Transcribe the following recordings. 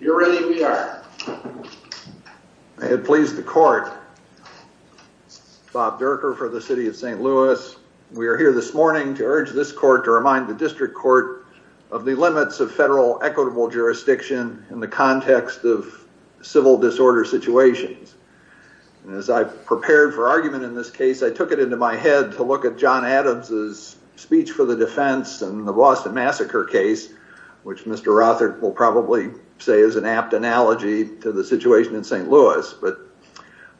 You're ready, we are. May it please the court, Bob Durker for the City of St. Louis. We are here this morning to urge this court to remind the district court of the limits of federal equitable jurisdiction in the context of civil disorder situations. As I prepared for argument in this case, I took it into my head to look at John Adams' speech for the defense in the Boston Massacre case, which Mr. Rothert will probably say is an apt analogy to the situation in St. Louis, but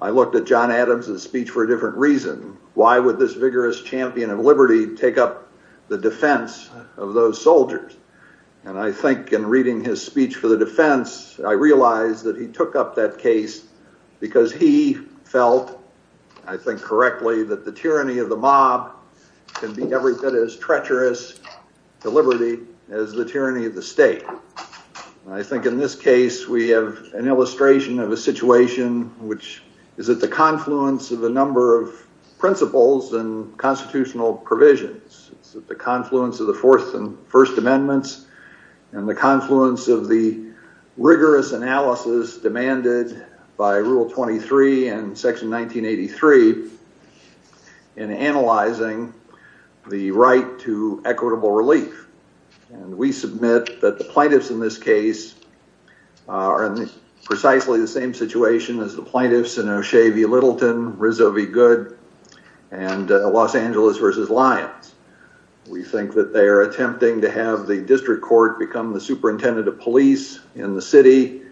I looked at John Adams' speech for a different reason. Why would this vigorous champion of liberty take up the defense of those soldiers? And I think in reading his speech for the defense, I realized that he took up that case because he felt, I think correctly, that the tyranny of the mob can be every bit as treacherous to liberty as the tyranny of the state. I think in this case we have an illustration of a situation which is at the confluence of a number of principles and constitutional provisions. It's at the confluence of the Fourth and First Amendments and the confluence of the rigorous analysis demanded by Rule 23 and Section 1983 in analyzing the right to equitable relief. We submit that the plaintiffs in this case are in precisely the same situation as the plaintiffs in O'Shea v. Littleton, Rizzo v. Goode, and Los Angeles v. Lyons. We think that they are attempting to have the district court become the superintendent of police in the city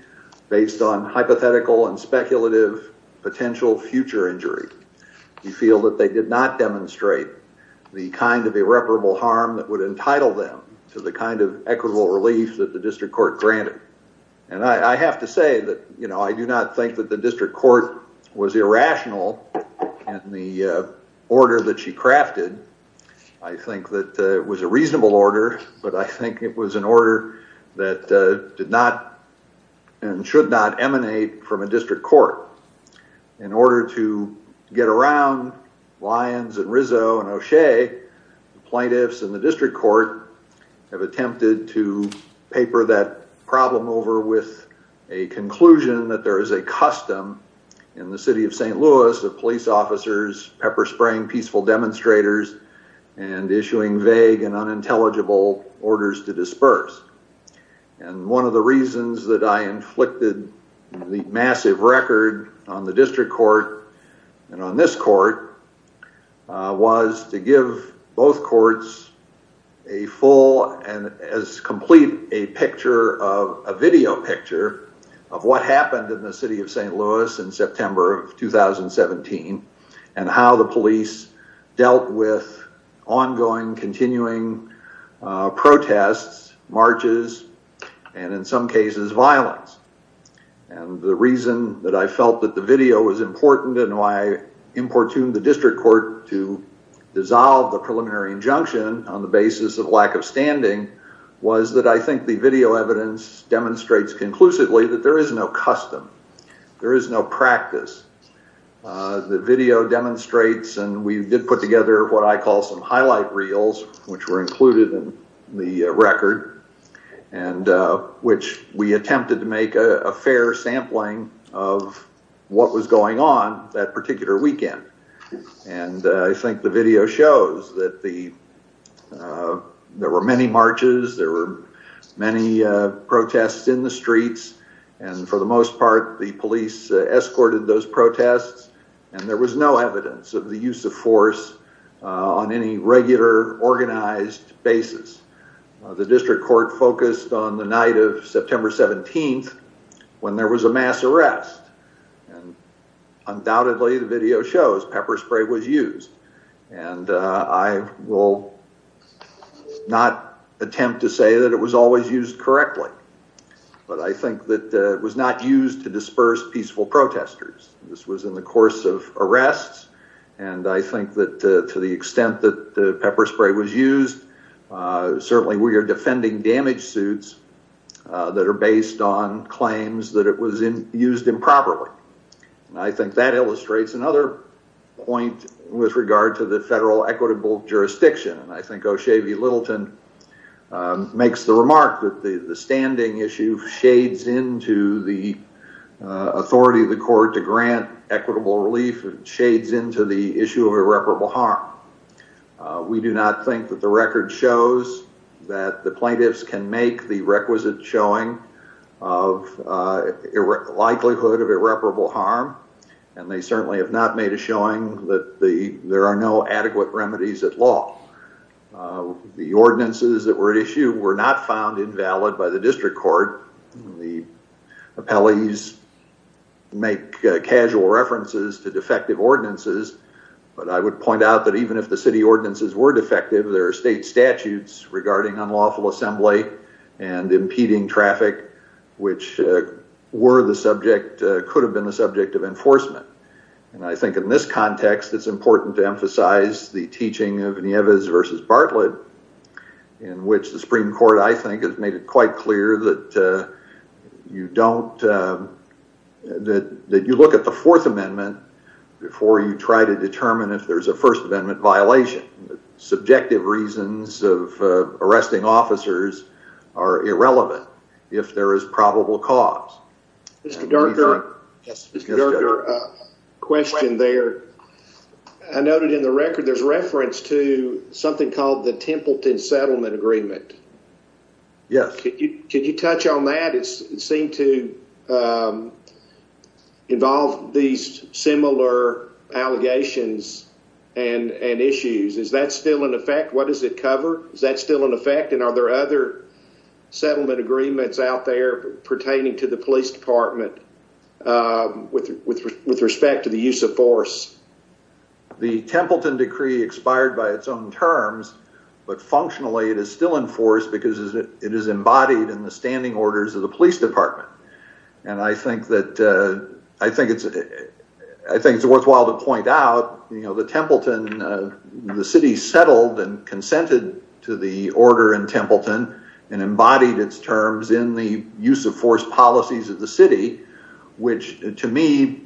based on hypothetical and speculative potential future injury. We feel that they did not demonstrate the kind of irreparable harm that would entitle them to the kind of equitable relief that the district court granted. And I have to say that I do not think that the district court was irrational in the order that she crafted. I think that it was a reasonable order, but I think it was an order that did not and should not emanate from a district court. In order to get around Lyons and Rizzo and O'Shea, the plaintiffs and the district court have attempted to paper that problem over with a conclusion that there is a custom in the city of St. Louis of police officers pepper spraying peaceful demonstrators and issuing vague and unintelligible orders to disperse. And one of the reasons that I inflicted the massive record on the district court and on this court was to give both courts a full and as complete a picture of a video picture of what happened in the city of St. Louis in September of 2017 and how the police dealt with ongoing, continuing protests, marches, and in some cases violence. And the reason that I felt that the video was important and why I importuned the district court to dissolve the preliminary injunction on the basis of lack of standing was that I think the video evidence demonstrates conclusively that there is no custom. There is no practice. The video demonstrates and we did put together what I call some highlight reels which were included in the record and which we attempted to make a fair sampling of what was going on that particular weekend. And I think the video shows that there were many marches, there were many protests in the streets, and for the most part the police escorted those protests and there was no evidence of the use of force on any regular organized basis. The district court focused on the night of September 17th when there was a mass arrest and undoubtedly the video shows pepper spray was used and I will not attempt to say that it was always used correctly but I think that it was not used to disperse peaceful protesters. This was in the course of arrests and I think that to the extent that the pepper spray was used, certainly we are defending damage suits that are based on claims that it was used improperly. I think that illustrates another point with regard to the federal equitable jurisdiction and I think O'Shea V. Littleton makes the remark that the standing issue shades into the authority of the court to grant equitable relief and shades into the issue of irreparable harm. We do not think that the record shows that the plaintiffs can make the requisite showing of likelihood of irreparable harm and they certainly have not made a showing that there are no adequate remedies at law. The ordinances that were issued were not found invalid by the district court. The appellees make casual references to defective ordinances but I would point out that even if the city ordinances were defective, there are state statutes regarding unlawful assembly and impeding traffic which were the subject, could have been the subject of enforcement. I think in this context it's important to emphasize the teaching of Nieves v. Bartlett in which the Supreme Court, I think, has made it quite clear that you look at the Fourth Amendment before you try to determine if there's a First Amendment violation. Subjective reasons of arresting officers are irrelevant if there is probable cause. Mr. Durker, a question there. I noted in the record there's reference to something called the Templeton Settlement Agreement. Yes. Could you touch on that? It seemed to involve these similar allegations and issues. Is that still in effect? What does it cover? Is that still in effect and are there other settlement agreements out there pertaining to the police department with respect to the use of force? The Templeton Decree expired by its own terms but functionally it is still in force because it is embodied in the standing orders of the police department. I think it's worthwhile to point out the city settled and consented to the order in Templeton and embodied its terms in the use of force policies of the city which to me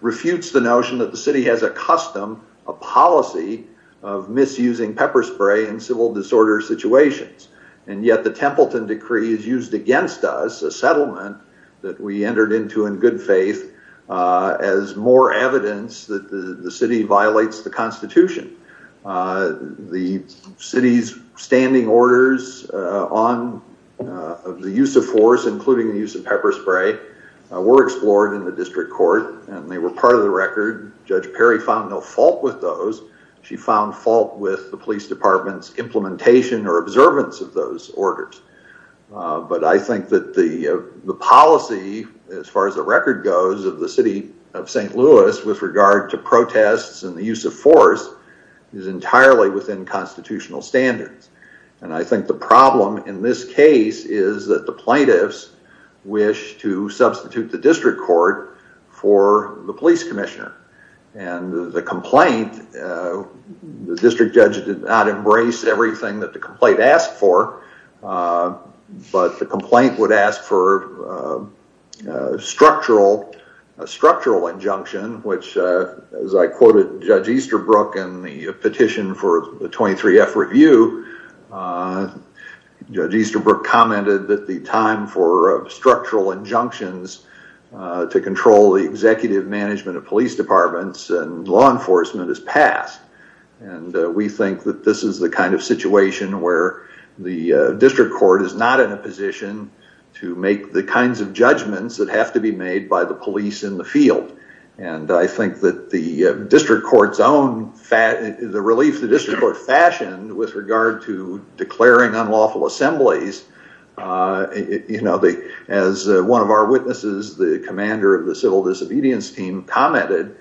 refutes the notion that the city has a custom, a policy, of misusing pepper spray in civil disorder situations. And yet the Templeton Decree is used against us, a settlement that we entered into in good faith, as more evidence that the city violates the Constitution. The city's standing orders of the use of force, including the use of pepper spray, were explored in the district court and they were part of the record. Judge Perry found no fault with those. She found fault with the police department's implementation or observance of those orders. But I think that the policy, as far as the record goes, of the city of St. Louis with regard to protests and the use of force is entirely within constitutional standards. And I think the problem in this case is that the plaintiffs wish to substitute the district court for the police commissioner and the complaint, the district judge did not embrace everything that the complaint asked for, but the complaint would ask for a structural injunction which, as I quoted Judge Easterbrook in the petition for the 23F review, Judge Easterbrook commented that the time for structural injunctions to control the executive management of police departments and law enforcement has passed, and we think that this is the kind of situation where the district court is not in a position to make the kinds of judgments that have to be made by the police in the field. And I think that the district court's own, the relief the district court fashioned with regard to declaring unlawful assemblies, as one of our witnesses, the commander of the civil disobedience team, commented,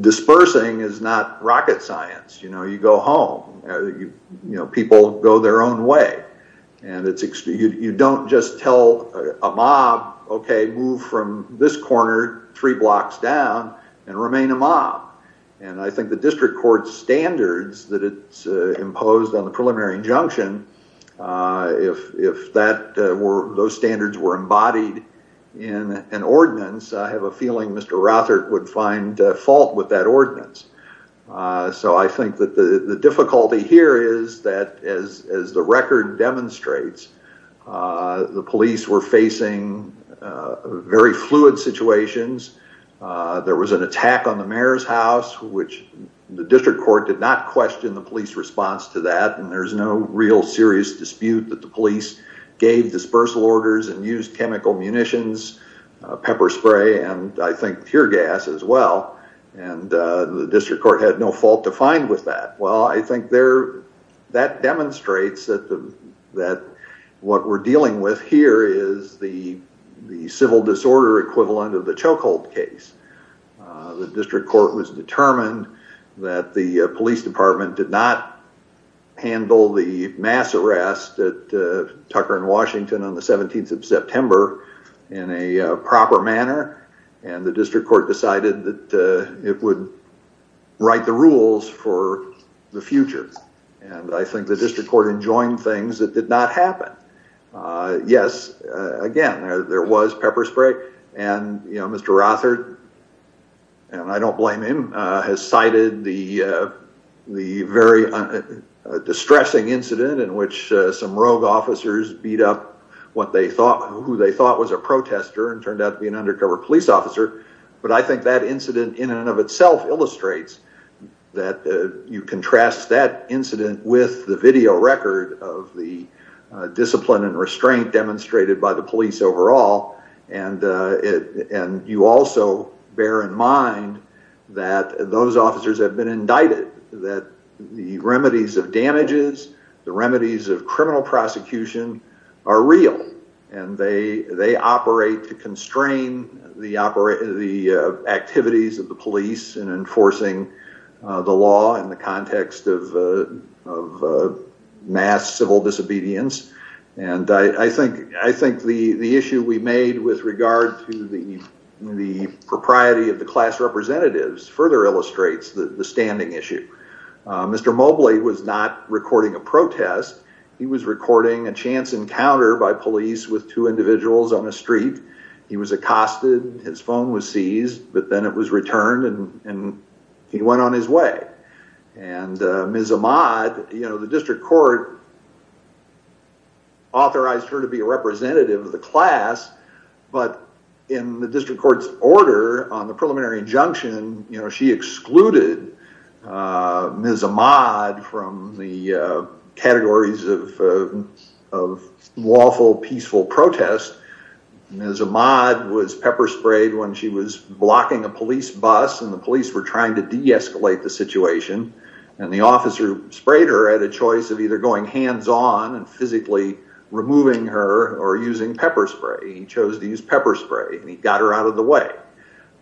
dispersing is not rocket science. You go home. People go their own way. And you don't just tell a mob, okay, move from this corner three blocks down and remain a mob. And I think the district court's standards that it's imposed on the preliminary injunction, if those standards were embodied in an ordinance, I have a feeling Mr. Rothert would find fault with that ordinance. So I think that the difficulty here is that, as the record demonstrates, the police were facing very fluid situations. There was an attack on the mayor's house, which the district court did not question the police response to that. And the district court had no fault to find with that. Well, I think that demonstrates that what we're dealing with here is the civil disorder equivalent of the chokehold case. The district court was determined that the police department did not handle the mass arrest at Tucker and Washington on the 17th of September in a proper manner. And the district court decided that it would write the rules for the future. And I think the district court enjoined things that did not happen. Yes, again, there was pepper spray. And Mr. Rothert, and I don't blame him, has cited the very distressing incident in which some rogue officers beat up who they thought was a protester and turned out to be an undercover police officer. But I think that incident in and of itself illustrates that you contrast that incident with the video record of the discipline and restraint demonstrated by the police overall. And you also bear in mind that those officers have been indicted, that the remedies of damages, the remedies of criminal prosecution are real. And they operate to constrain the activities of the police in enforcing the law in the context of mass civil disobedience. And I think the issue we made with regard to the propriety of the class representatives further illustrates the standing issue. Mr. Mobley was not recording a protest. He was recording a chance encounter by police with two individuals on a street. He was accosted, his phone was seized, but then it was returned and he went on his way. And Ms. Ahmad, you know, the district court authorized her to be a representative of the class. But in the district court's order on the preliminary injunction, you know, she excluded Ms. Ahmad from the categories of lawful, peaceful protest. Ms. Ahmad was pepper-sprayed when she was blocking a police bus and the police were trying to de-escalate the situation. And the officer who sprayed her had a choice of either going hands-on and physically removing her or using pepper spray. He chose to use pepper spray and he got her out of the way.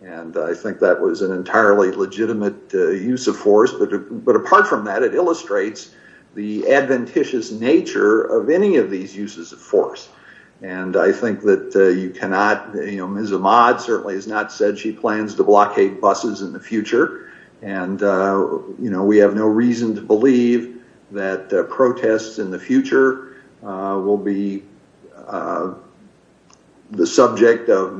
And I think that was an entirely legitimate use of force. But apart from that, it illustrates the adventitious nature of any of these uses of force. And I think that you cannot, you know, Ms. Ahmad certainly has not said she plans to blockade buses in the future. And, you know, we have no reason to believe that protests in the future will be the subject of,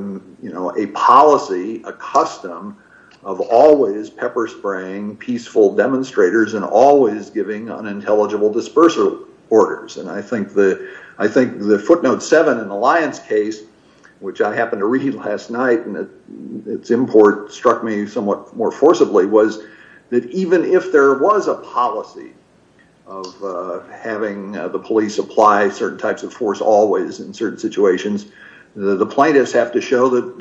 you know, a policy, a custom of always pepper-spraying peaceful demonstrators and always giving unintelligible dispersal orders. And I think the footnote 7 in the Lyons case, which I happened to read last night and its import struck me somewhat more forcibly, was that even if there was a policy of having the police apply certain types of force always in certain situations, the plaintiffs have to show that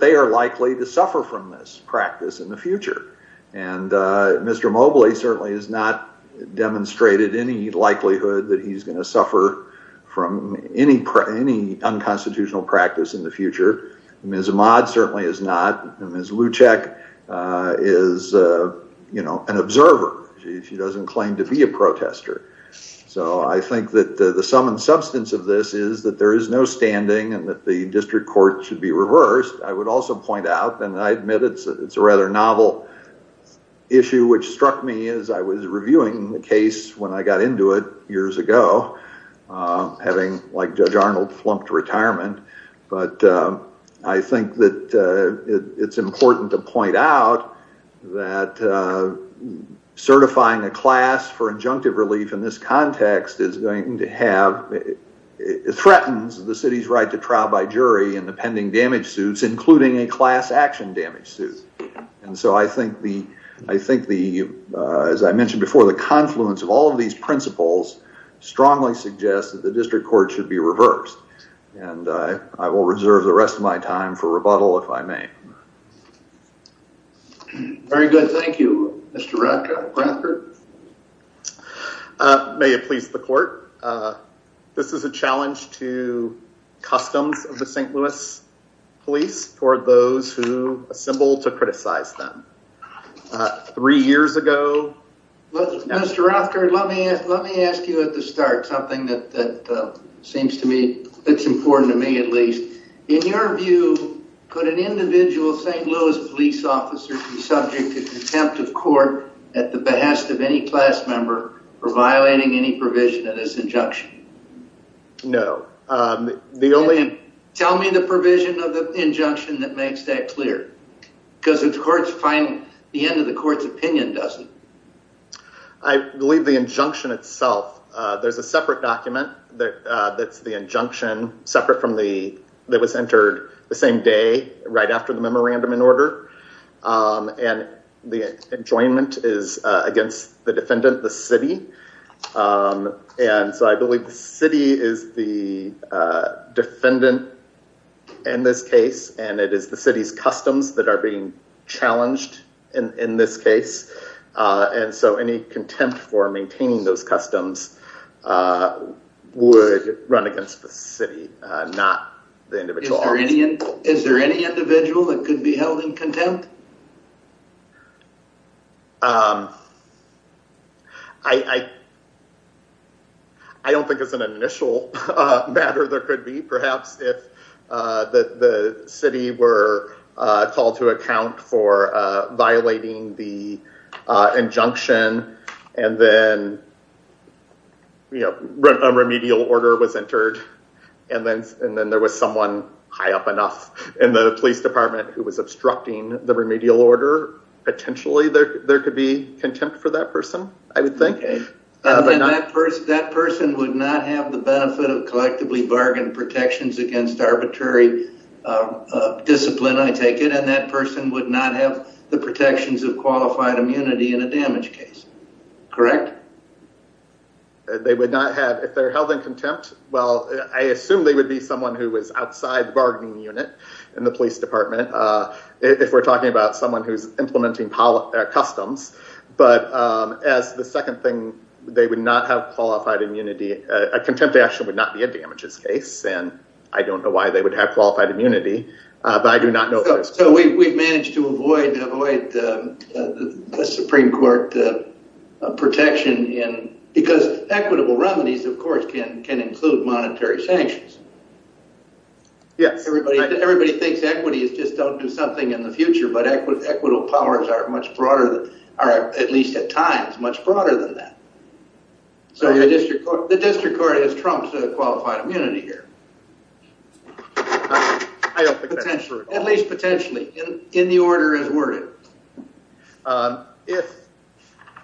they are likely to suffer from this practice in the future. And Mr. Mobley certainly has not demonstrated any likelihood that he's going to suffer from any unconstitutional practice in the future. Ms. Ahmad certainly has not. And Ms. Lucek is, you know, an observer. She doesn't claim to be a protester. So I think that the sum and substance of this is that there is no standing and that the district court should be reversed. I would also point out, and I admit it's a rather novel issue, which struck me as I was reviewing the case when I got into it years ago, having, like Judge Arnold, flunked retirement. But I think that it's important to point out that certifying a class for injunctive relief in this context is going to have, it threatens the city's right to trial by jury in the pending damage suits, including a class action damage suit. And so I think the, as I mentioned before, the confluence of all of these principles strongly suggests that the district court should be reversed. And I will reserve the rest of my time for rebuttal if I may. Very good. Thank you, Mr. Rothkard. May it please the court. This is a challenge to customs of the St. Louis police toward those who assemble to criticize them. Three years ago. Mr. Rothkard, let me ask you at the start something that seems to me, that's important to me at least. In your view, could an individual St. Louis police officer be subject to contempt of court at the behest of any class member for violating any provision of this injunction? No. Tell me the provision of the injunction that makes that clear. Because it's hard to find the end of the court's opinion, doesn't it? I believe the injunction itself, there's a separate document that's the injunction separate from the, that was entered the same day, right after the memorandum in order. And the enjoyment is against the defendant, the city. And so I believe the city is the defendant in this case, and it is the city's customs that are being challenged in this case. And so any contempt for maintaining those customs would run against the city, not the individual officer. Is there any individual that could be held in contempt? I don't think it's an initial matter there could be. Perhaps if the city were called to account for violating the injunction and then, you know, a remedial order was entered. And then there was someone high up enough in the police department who was obstructing the remedial order. Potentially there could be contempt for that person, I would think. That person would not have the benefit of collectively bargained protections against arbitrary discipline, I take it. And that person would not have the protections of qualified immunity in a damage case. Correct? They would not have, if they're held in contempt, well, I assume they would be someone who was outside the bargaining unit in the police department. If we're talking about someone who's implementing customs. But as the second thing, they would not have qualified immunity. A contempt action would not be a damages case. And I don't know why they would have qualified immunity. So we've managed to avoid the Supreme Court protection. Because equitable remedies, of course, can include monetary sanctions. Yes. Everybody thinks equity is just don't do something in the future. But equitable powers are much broader, at least at times, much broader than that. So the district court has trumped qualified immunity here. I don't think that's true at all. At least potentially, in the order as worded.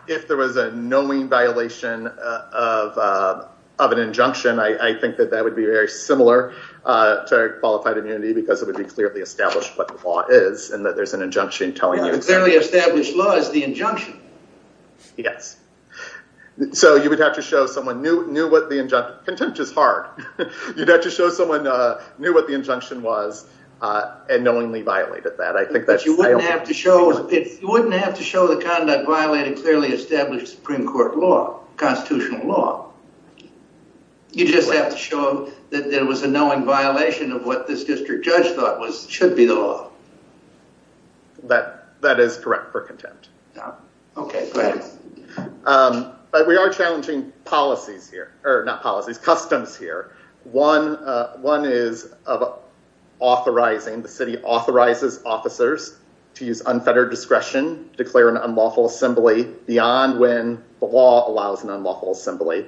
If there was a knowing violation of an injunction, I think that that would be very similar to qualified immunity. Because it would be clearly established what the law is and that there's an injunction telling you. Clearly established law is the injunction. Yes. So you would have to show someone knew what the injunction, contempt is hard. You would have to show someone knew what the injunction was and knowingly violated that. But you wouldn't have to show the conduct violating clearly established Supreme Court law, constitutional law. You just have to show that there was a knowing violation of what this district judge thought should be the law. That is correct for contempt. Okay, great. But we are challenging policies here. Or not policies, customs here. One is of authorizing. The city authorizes officers to use unfettered discretion, declare an unlawful assembly beyond when the law allows an unlawful assembly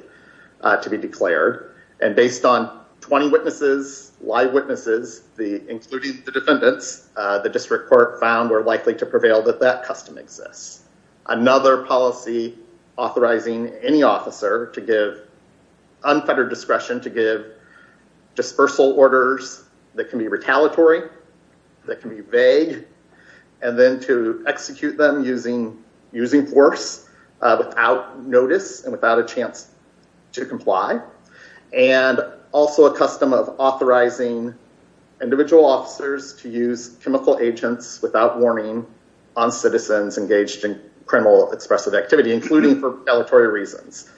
to be declared. And based on 20 witnesses, live witnesses, including the defendants, the district court found we're likely to prevail that that custom exists. Another policy authorizing any officer to give unfettered discretion to give dispersal orders that can be retaliatory. That can be vague. And then to execute them using force without notice and without a chance to comply. And also a custom of authorizing individual officers to use chemical agents without warning on citizens engaged in criminal expressive activity, including for retaliatory reasons.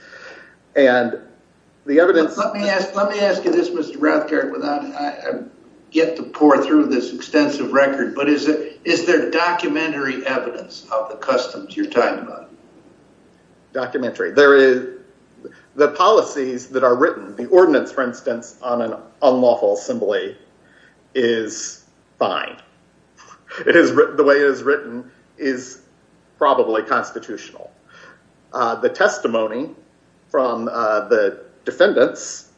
And the evidence... Let me ask you this, Mr. Rothkard. I get to pour through this extensive record, but is there documentary evidence of the customs you're talking about? Documentary. There is... The policies that are written, the ordinance, for instance, on an unlawful assembly is fine. The way it is written is probably constitutional. The testimony from the defendants,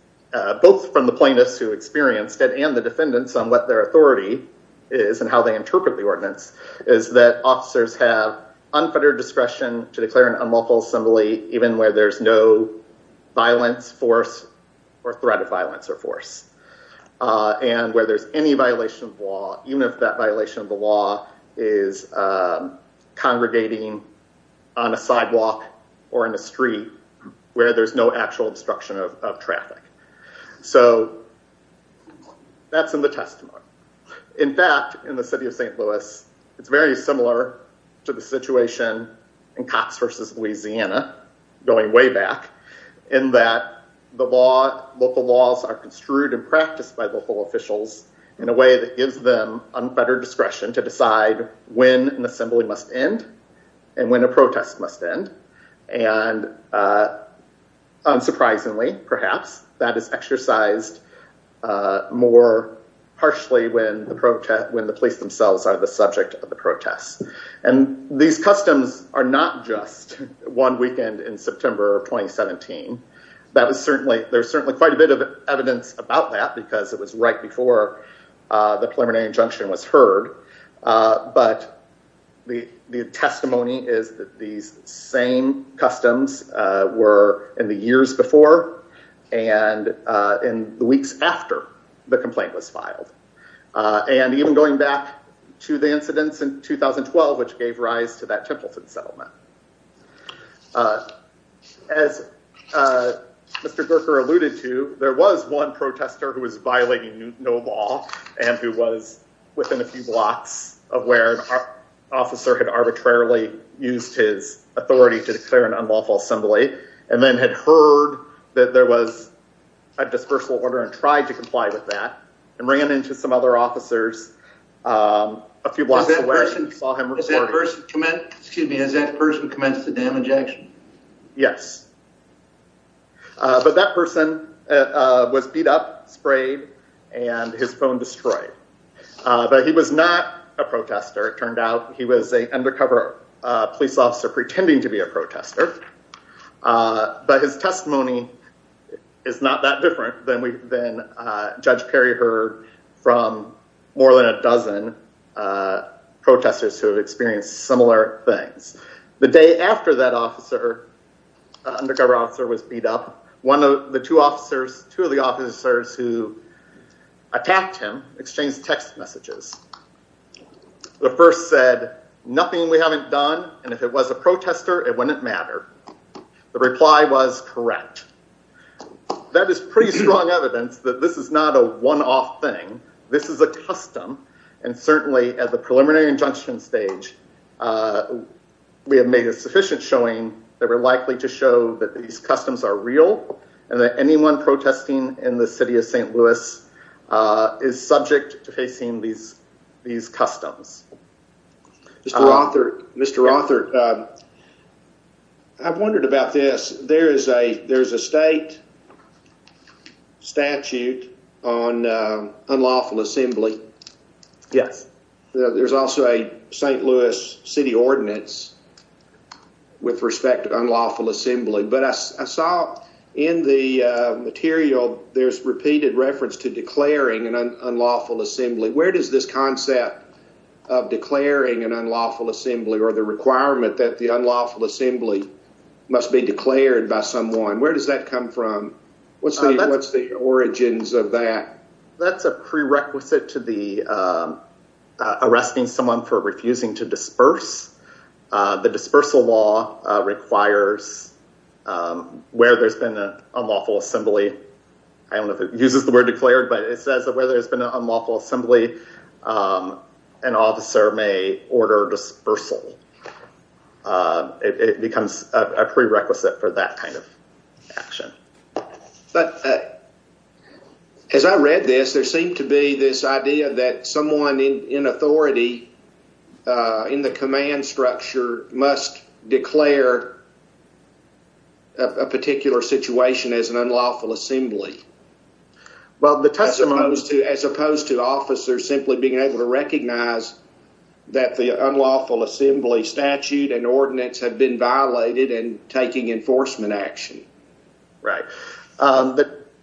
both from the plaintiffs who experienced it and the defendants on what their authority is and how they interpret the ordinance, is that officers have unfettered discretion to declare an unlawful assembly even where there's no violence, force, or threat of violence or force. And where there's any violation of law, even if that violation of the law is congregating on a sidewalk or in a street where there's no actual obstruction of traffic. So that's in the testimony. In fact, in the city of St. Louis, it's very similar to the situation in Cox versus Louisiana, going way back, in that the local laws are construed and practiced by local officials in a way that gives them unfettered discretion to decide when an assembly must end and when a protest must end. And unsurprisingly, perhaps, that is exercised more partially when the police themselves are the subject of the protests. And these customs are not just one weekend in September of 2017. There's certainly quite a bit of evidence about that because it was right before the preliminary injunction was heard. But the testimony is that these same customs were in the years before and in the weeks after the complaint was filed. And even going back to the incidents in 2012, which gave rise to that Templeton settlement. As Mr. Gorker alluded to, there was one protester who was violating no law and who was within a few blocks of where an officer had arbitrarily used his authority to declare an unlawful assembly and then had heard that there was a dispersal order and tried to comply with that and ran into some other officers a few blocks away and saw him recorded. Has that person commenced the damage action? Yes. But that person was beat up, sprayed, and his phone destroyed. But he was not a protester. It turned out he was an undercover police officer pretending to be a protester. But his testimony is not that different than Judge Perry heard from more than a dozen protesters who have experienced similar things. The day after that undercover officer was beat up, two of the officers who attacked him exchanged text messages. The first said, nothing we haven't done, and if it was a protester, it wouldn't matter. The reply was correct. That is pretty strong evidence that this is not a one-off thing. This is a custom, and certainly at the preliminary injunction stage, we have made a sufficient showing that we're likely to show that these customs are real and that anyone protesting in the city of St. Louis is subject to facing these customs. Mr. Rothart, I've wondered about this. There's a state statute on unlawful assembly. Yes. There's also a St. Louis city ordinance with respect to unlawful assembly. But I saw in the material, there's repeated reference to declaring an unlawful assembly. Where does this concept of declaring an unlawful assembly or the requirement that the unlawful assembly must be declared by someone, where does that come from? What's the origins of that? That's a prerequisite to arresting someone for refusing to disperse. The dispersal law requires where there's been an unlawful assembly. I don't know if it uses the word declared, but it says that where there's been an unlawful assembly, an officer may order dispersal. It becomes a prerequisite for that kind of action. As I read this, there seemed to be this idea that someone in authority in the command structure must declare a particular situation as an unlawful assembly. As opposed to officers simply being able to recognize that the unlawful assembly statute and ordinance have been violated and taking enforcement action.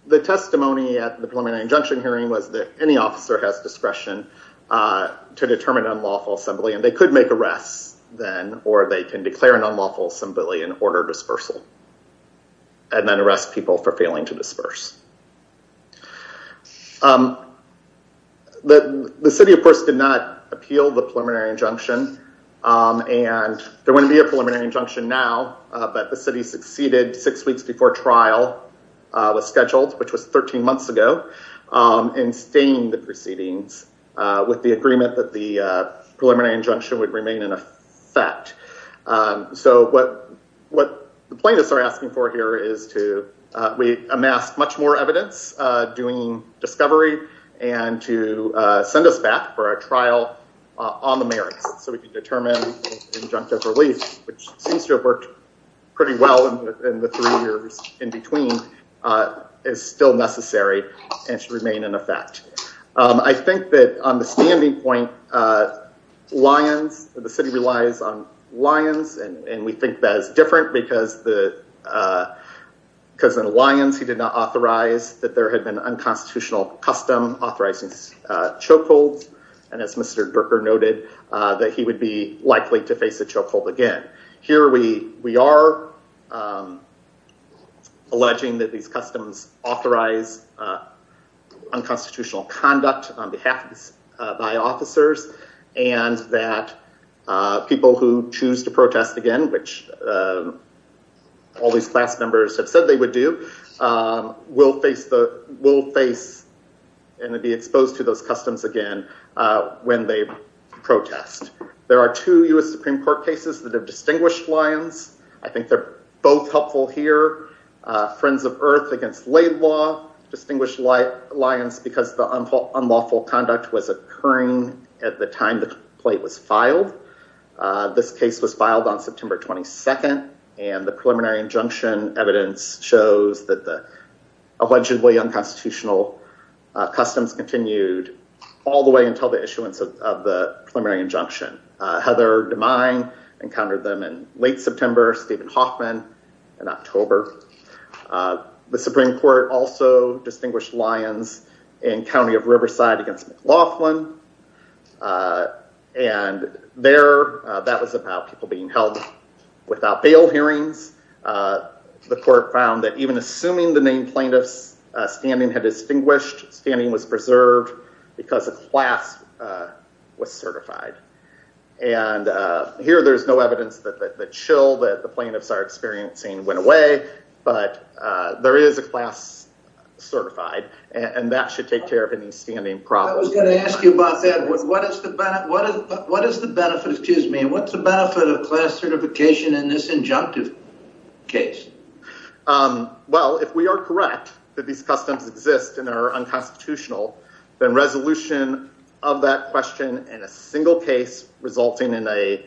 The testimony at the preliminary injunction hearing was that any officer has discretion to determine unlawful assembly. They could make arrests then or they can declare an unlawful assembly and order dispersal. And then arrest people for failing to disperse. The city of course did not appeal the preliminary injunction. There wouldn't be a preliminary injunction now, but the city succeeded six weeks before trial was scheduled, which was 13 months ago, in staying the proceedings with the agreement that the preliminary injunction would remain in effect. What the plaintiffs are asking for here is to amass much more evidence doing discovery and to send us back for a trial on the merits. So we can determine injunctive relief, which seems to have worked pretty well in the three years in between, is still necessary and should remain in effect. I think that on the standing point, Lyons, the city relies on Lyons, and we think that is different because in Lyons he did not authorize that there had been unconstitutional custom authorizing chokeholds. And as Mr. Berker noted, that he would be likely to face a chokehold again. Here we are alleging that these customs authorize unconstitutional conduct on behalf of officers, and that people who choose to protest again, which all these class members have said they would do, will face and be exposed to those customs again when they protest. There are two U.S. Supreme Court cases that have distinguished Lyons. I think they're both helpful here. Friends of Earth against Laidlaw distinguished Lyons because the unlawful conduct was occurring at the time the complaint was filed. This case was filed on September 22nd, and the preliminary injunction evidence shows that the allegedly unconstitutional customs continued all the way until the issuance of the preliminary injunction. Heather DeMine encountered them in late September, Stephen Hoffman in October. The Supreme Court also distinguished Lyons in County of Riverside against McLaughlin. And there, that was about people being held without bail hearings. The court found that even assuming the named plaintiff's standing had distinguished, standing was preserved because a class was certified. And here there's no evidence that the chill that the plaintiffs are experiencing went away, but there is a class certified, and that should take care of any standing problems. I was going to ask you about that. What is the benefit of class certification in this injunctive case? Well, if we are correct that these customs exist and are unconstitutional, then resolution of that question in a single case resulting in a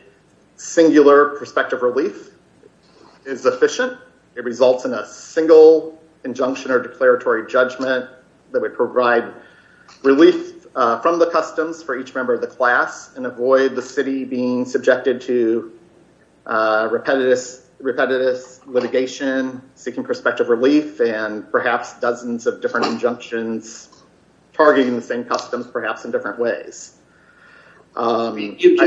singular prospective relief is efficient. It results in a single injunction or declaratory judgment that would provide relief from the customs for each member of the class and avoid the city being subjected to repetitive litigation, seeking prospective relief, and perhaps dozens of different injunctions targeting the same customs, perhaps in different ways. You've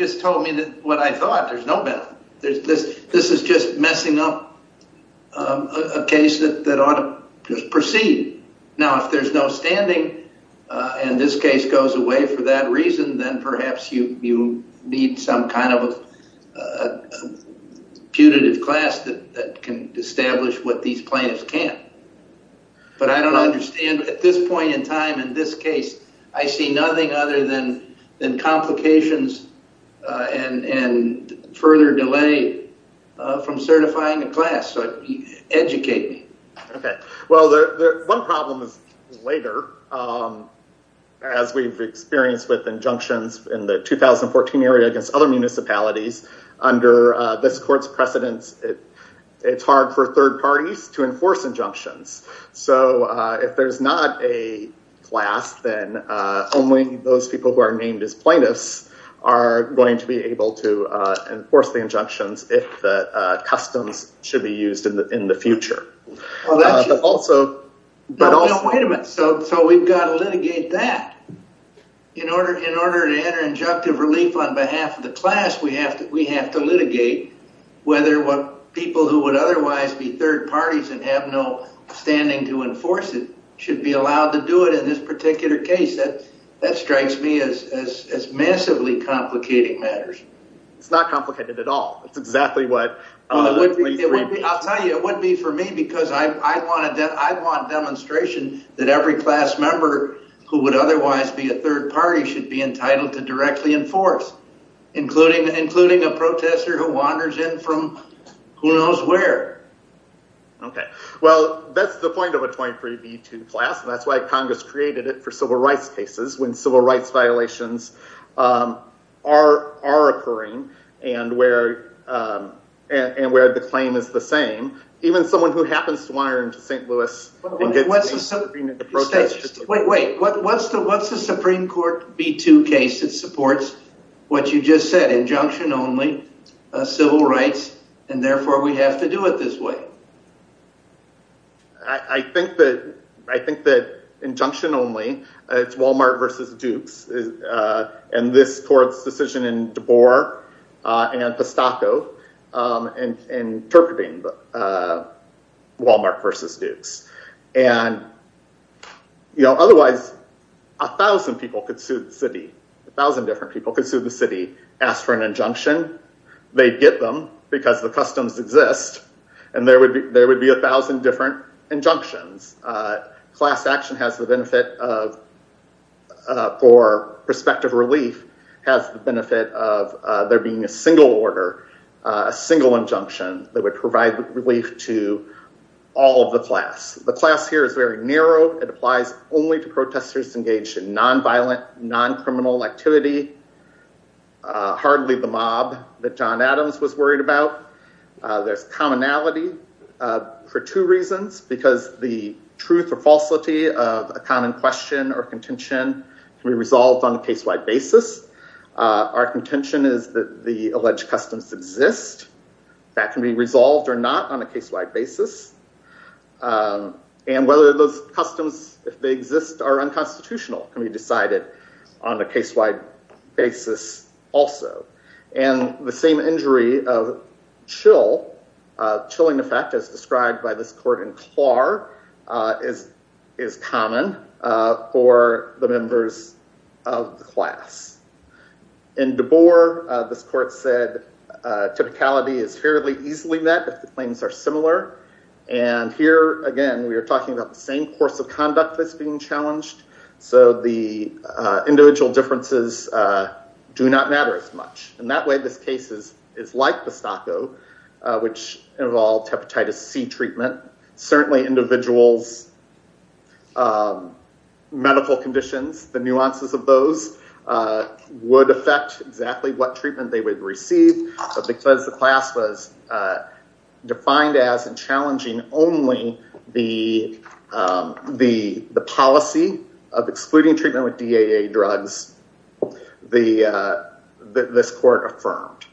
just told me what I thought. There's no benefit. This is just messing up a case that ought to proceed. Now, if there's no standing and this case goes away for that reason, then perhaps you need some kind of a punitive class that can establish what these plaintiffs can't. But I don't understand. At this point in time, in this case, I see nothing other than complications and further delay from certifying a class. Educate me. Well, one problem is later, as we've experienced with injunctions in the 2014 area against other municipalities, under this court's precedence, it's hard for third parties to enforce injunctions. So if there's not a class, then only those people who are named as plaintiffs are going to be able to enforce the injunctions if the customs should be used in the future. Wait a minute. So we've got to litigate that. In order to enter injunctive relief on behalf of the class, we have to litigate whether people who would otherwise be third parties and have no standing to enforce it should be allowed to do it in this particular case. That strikes me as massively complicating matters. It's not complicated at all. It's exactly what a 23B... I'll tell you, it wouldn't be for me because I want demonstration that every class member who would otherwise be a third party should be entitled to directly enforce, including a protester who wanders in from who knows where. Well, that's the point of a 23B2 class and that's why Congress created it for civil rights cases when civil rights violations are occurring and where the claim is the same. Wait, wait. What's the Supreme Court B2 case that supports what you just said, injunction only, civil rights, and therefore we have to do it this way? I think that injunction only, it's Walmart versus Dukes, and this court's decision in DeBoer and Pestaco interpreting Walmart versus Dukes. Otherwise, a thousand people could sue the city, a thousand different people could sue the city, ask for an injunction, they'd get them because the customs exist, and there would be a thousand different injunctions. Class action has the benefit of, for prospective relief, has the benefit of there being a single order, a single injunction that would provide relief to all of the class. The class here is very narrow, it applies only to protesters engaged in non-violent, non-criminal activity, hardly the mob that John Adams was worried about. There's commonality for two reasons, because the truth or falsity of a common question or contention can be resolved on a case-wide basis. Our contention is that the alleged customs exist, that can be resolved or not on a case-wide basis. And whether those customs, if they exist, are unconstitutional can be decided on a case-wide basis also. And the same injury of chill, chilling effect as described by this court in Clare, is common for the members of the class. In DeBoer, this court said typicality is fairly easily met if the claims are similar. And here, again, we are talking about the same course of conduct that's being challenged, so the individual differences do not matter as much. In that way, this case is like Pistacco, which involved hepatitis C treatment. Certainly, individuals' medical conditions, the nuances of those, would affect exactly what treatment they would receive. But because the class was defined as challenging only the policy of excluding treatment with DAA drugs, this court affirmed.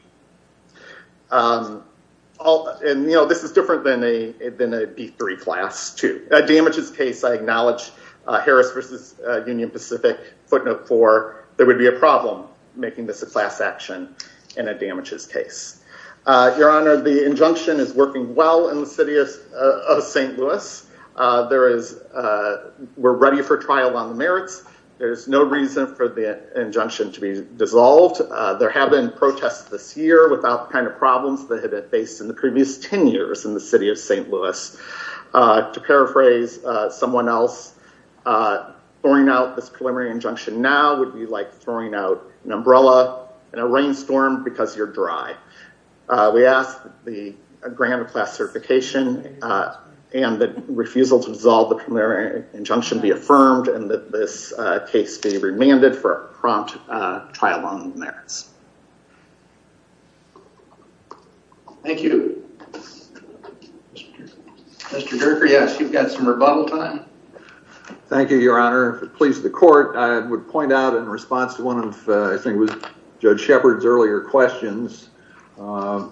And, you know, this is different than a B3 class, too. A damages case, I acknowledge Harris v. Union Pacific, footnote 4, there would be a problem making this a class action in a damages case. Your Honor, the injunction is working well in the city of St. Louis. There is, we're ready for trial on the merits. There's no reason for the injunction to be dissolved. There have been protests this year without the kind of problems that have been faced in the previous 10 years in the city of St. Louis. To paraphrase someone else, throwing out this preliminary injunction now would be like throwing out an umbrella in a rainstorm because you're dry. We ask that the grant of class certification and the refusal to dissolve the preliminary injunction be affirmed and that this case be remanded for a prompt trial on the merits. Thank you. Mr. Gerker, yes, you've got some rebuttal time. Thank you, Your Honor. If it pleases the court, I would point out in response to one of Judge Shepard's earlier questions, I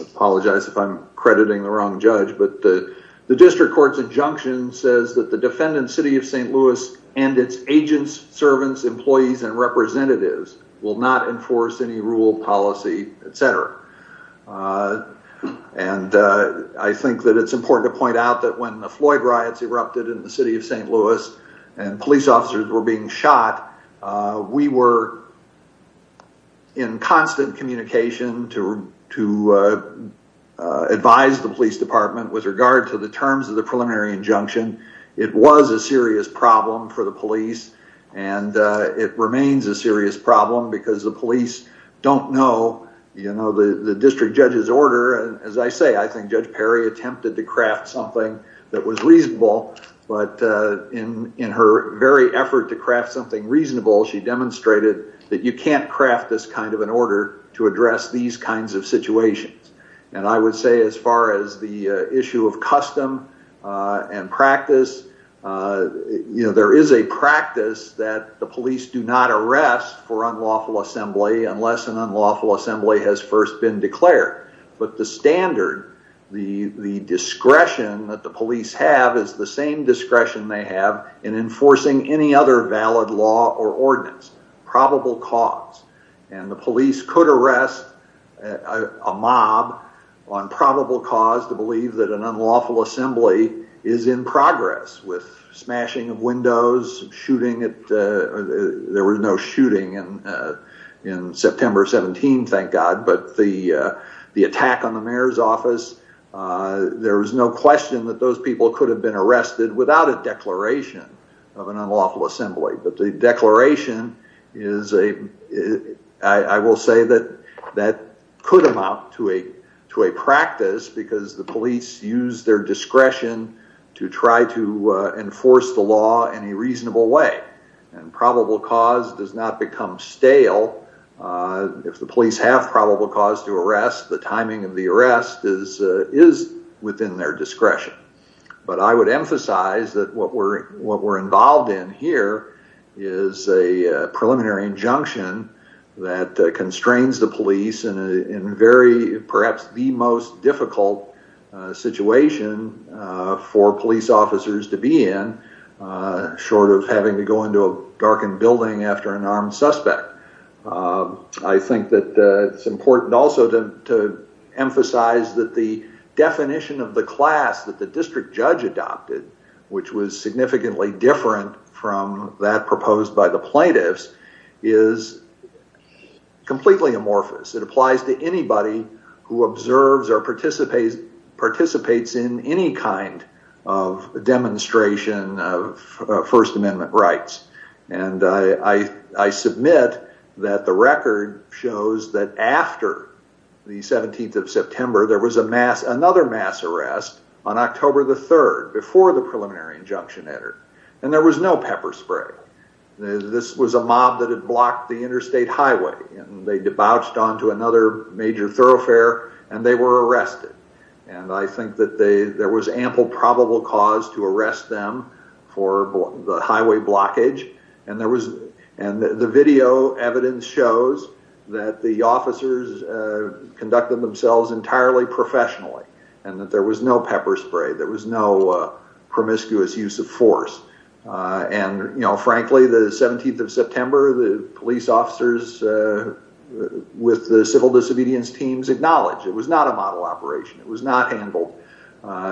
apologize if I'm crediting the wrong judge, but the district court's injunction says that the defendant's city of St. Louis and its agents, servants, employees, and representatives will not enforce any rule, policy, etc. I think that it's important to point out that when the Floyd riots erupted in the city of St. Louis and police officers were being shot, we were in constant communication to advise the police department with regard to the terms of the preliminary injunction. It was a serious problem for the police and it remains a serious problem because the police don't know the district judge's order. As I say, I think Judge Perry attempted to craft something that was reasonable, but in her very effort to craft something reasonable, she demonstrated that you can't craft this kind of an order to address these kinds of situations. I would say as far as the issue of custom and practice, there is a practice that the police do not arrest for unlawful assembly unless an unlawful assembly has first been declared. But the standard, the discretion that the police have is the same discretion they have in enforcing any other valid law or ordinance, probable cause. And the police could arrest a mob on probable cause to believe that an unlawful assembly is in progress with smashing of windows, shooting, there was no shooting in September 17, thank God, but the attack on the mayor's office, there is no question that those people could have been arrested without a declaration of an unlawful assembly. But the declaration is a, I will say that that could amount to a practice because the police use their discretion to try to enforce the law in a reasonable way. And probable cause does not become stale. If the police have probable cause to arrest, the timing of the arrest is within their discretion. But I would emphasize that what we're involved in here is a preliminary injunction that constrains the police in perhaps the most difficult situation for police officers to be in, short of having to go into a darkened building after an armed suspect. I think that it's important also to emphasize that the definition of the class that the district judge adopted, which was significantly different from that proposed by the plaintiffs, is completely amorphous. It applies to anybody who observes or participates in any kind of demonstration of First Amendment rights. And I submit that the record shows that after the 17th of September, there was another mass arrest on October the 3rd, before the preliminary injunction entered. And there was no pepper spray. This was a mob that had blocked the interstate highway. And they debauched onto another major thoroughfare, and they were arrested. And I think that there was ample probable cause to arrest them for the highway blockage. And the video evidence shows that the officers conducted themselves entirely professionally, and that there was no pepper spray. There was no promiscuous use of force. And, you know, frankly, the 17th of September, the police officers with the civil disobedience teams acknowledged it was not a model operation. It was not handled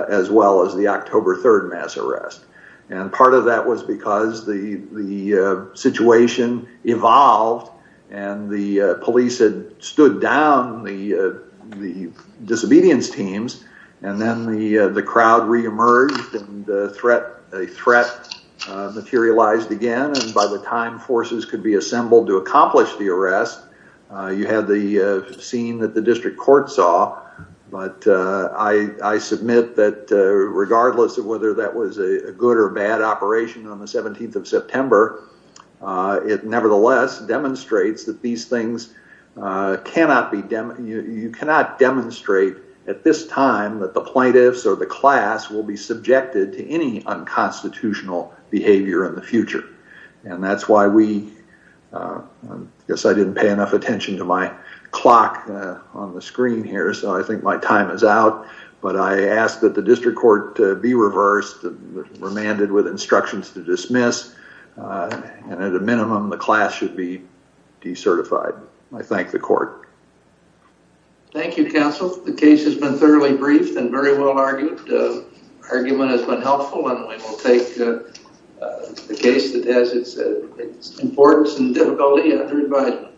as well as the October 3rd mass arrest. And part of that was because the situation evolved, and the police had stood down the disobedience teams. And then the crowd reemerged, and a threat materialized again. And by the time forces could be assembled to accomplish the arrest, you had the scene that the district court saw. But I submit that regardless of whether that was a good or bad operation on the 17th of September, it nevertheless demonstrates that these things cannot be demonstrated at this time that the plaintiffs or the class will be subjected to any unconstitutional behavior in the future. And that's why we, I guess I didn't pay enough attention to my clock on the screen here, so I think my time is out. But I ask that the district court be reversed and remanded with instructions to dismiss. And at a minimum, the class should be decertified. I thank the court. Thank you, counsel. The case has been thoroughly briefed and very well argued. The argument has been helpful, and we will take the case that has its importance and difficulty under advisement.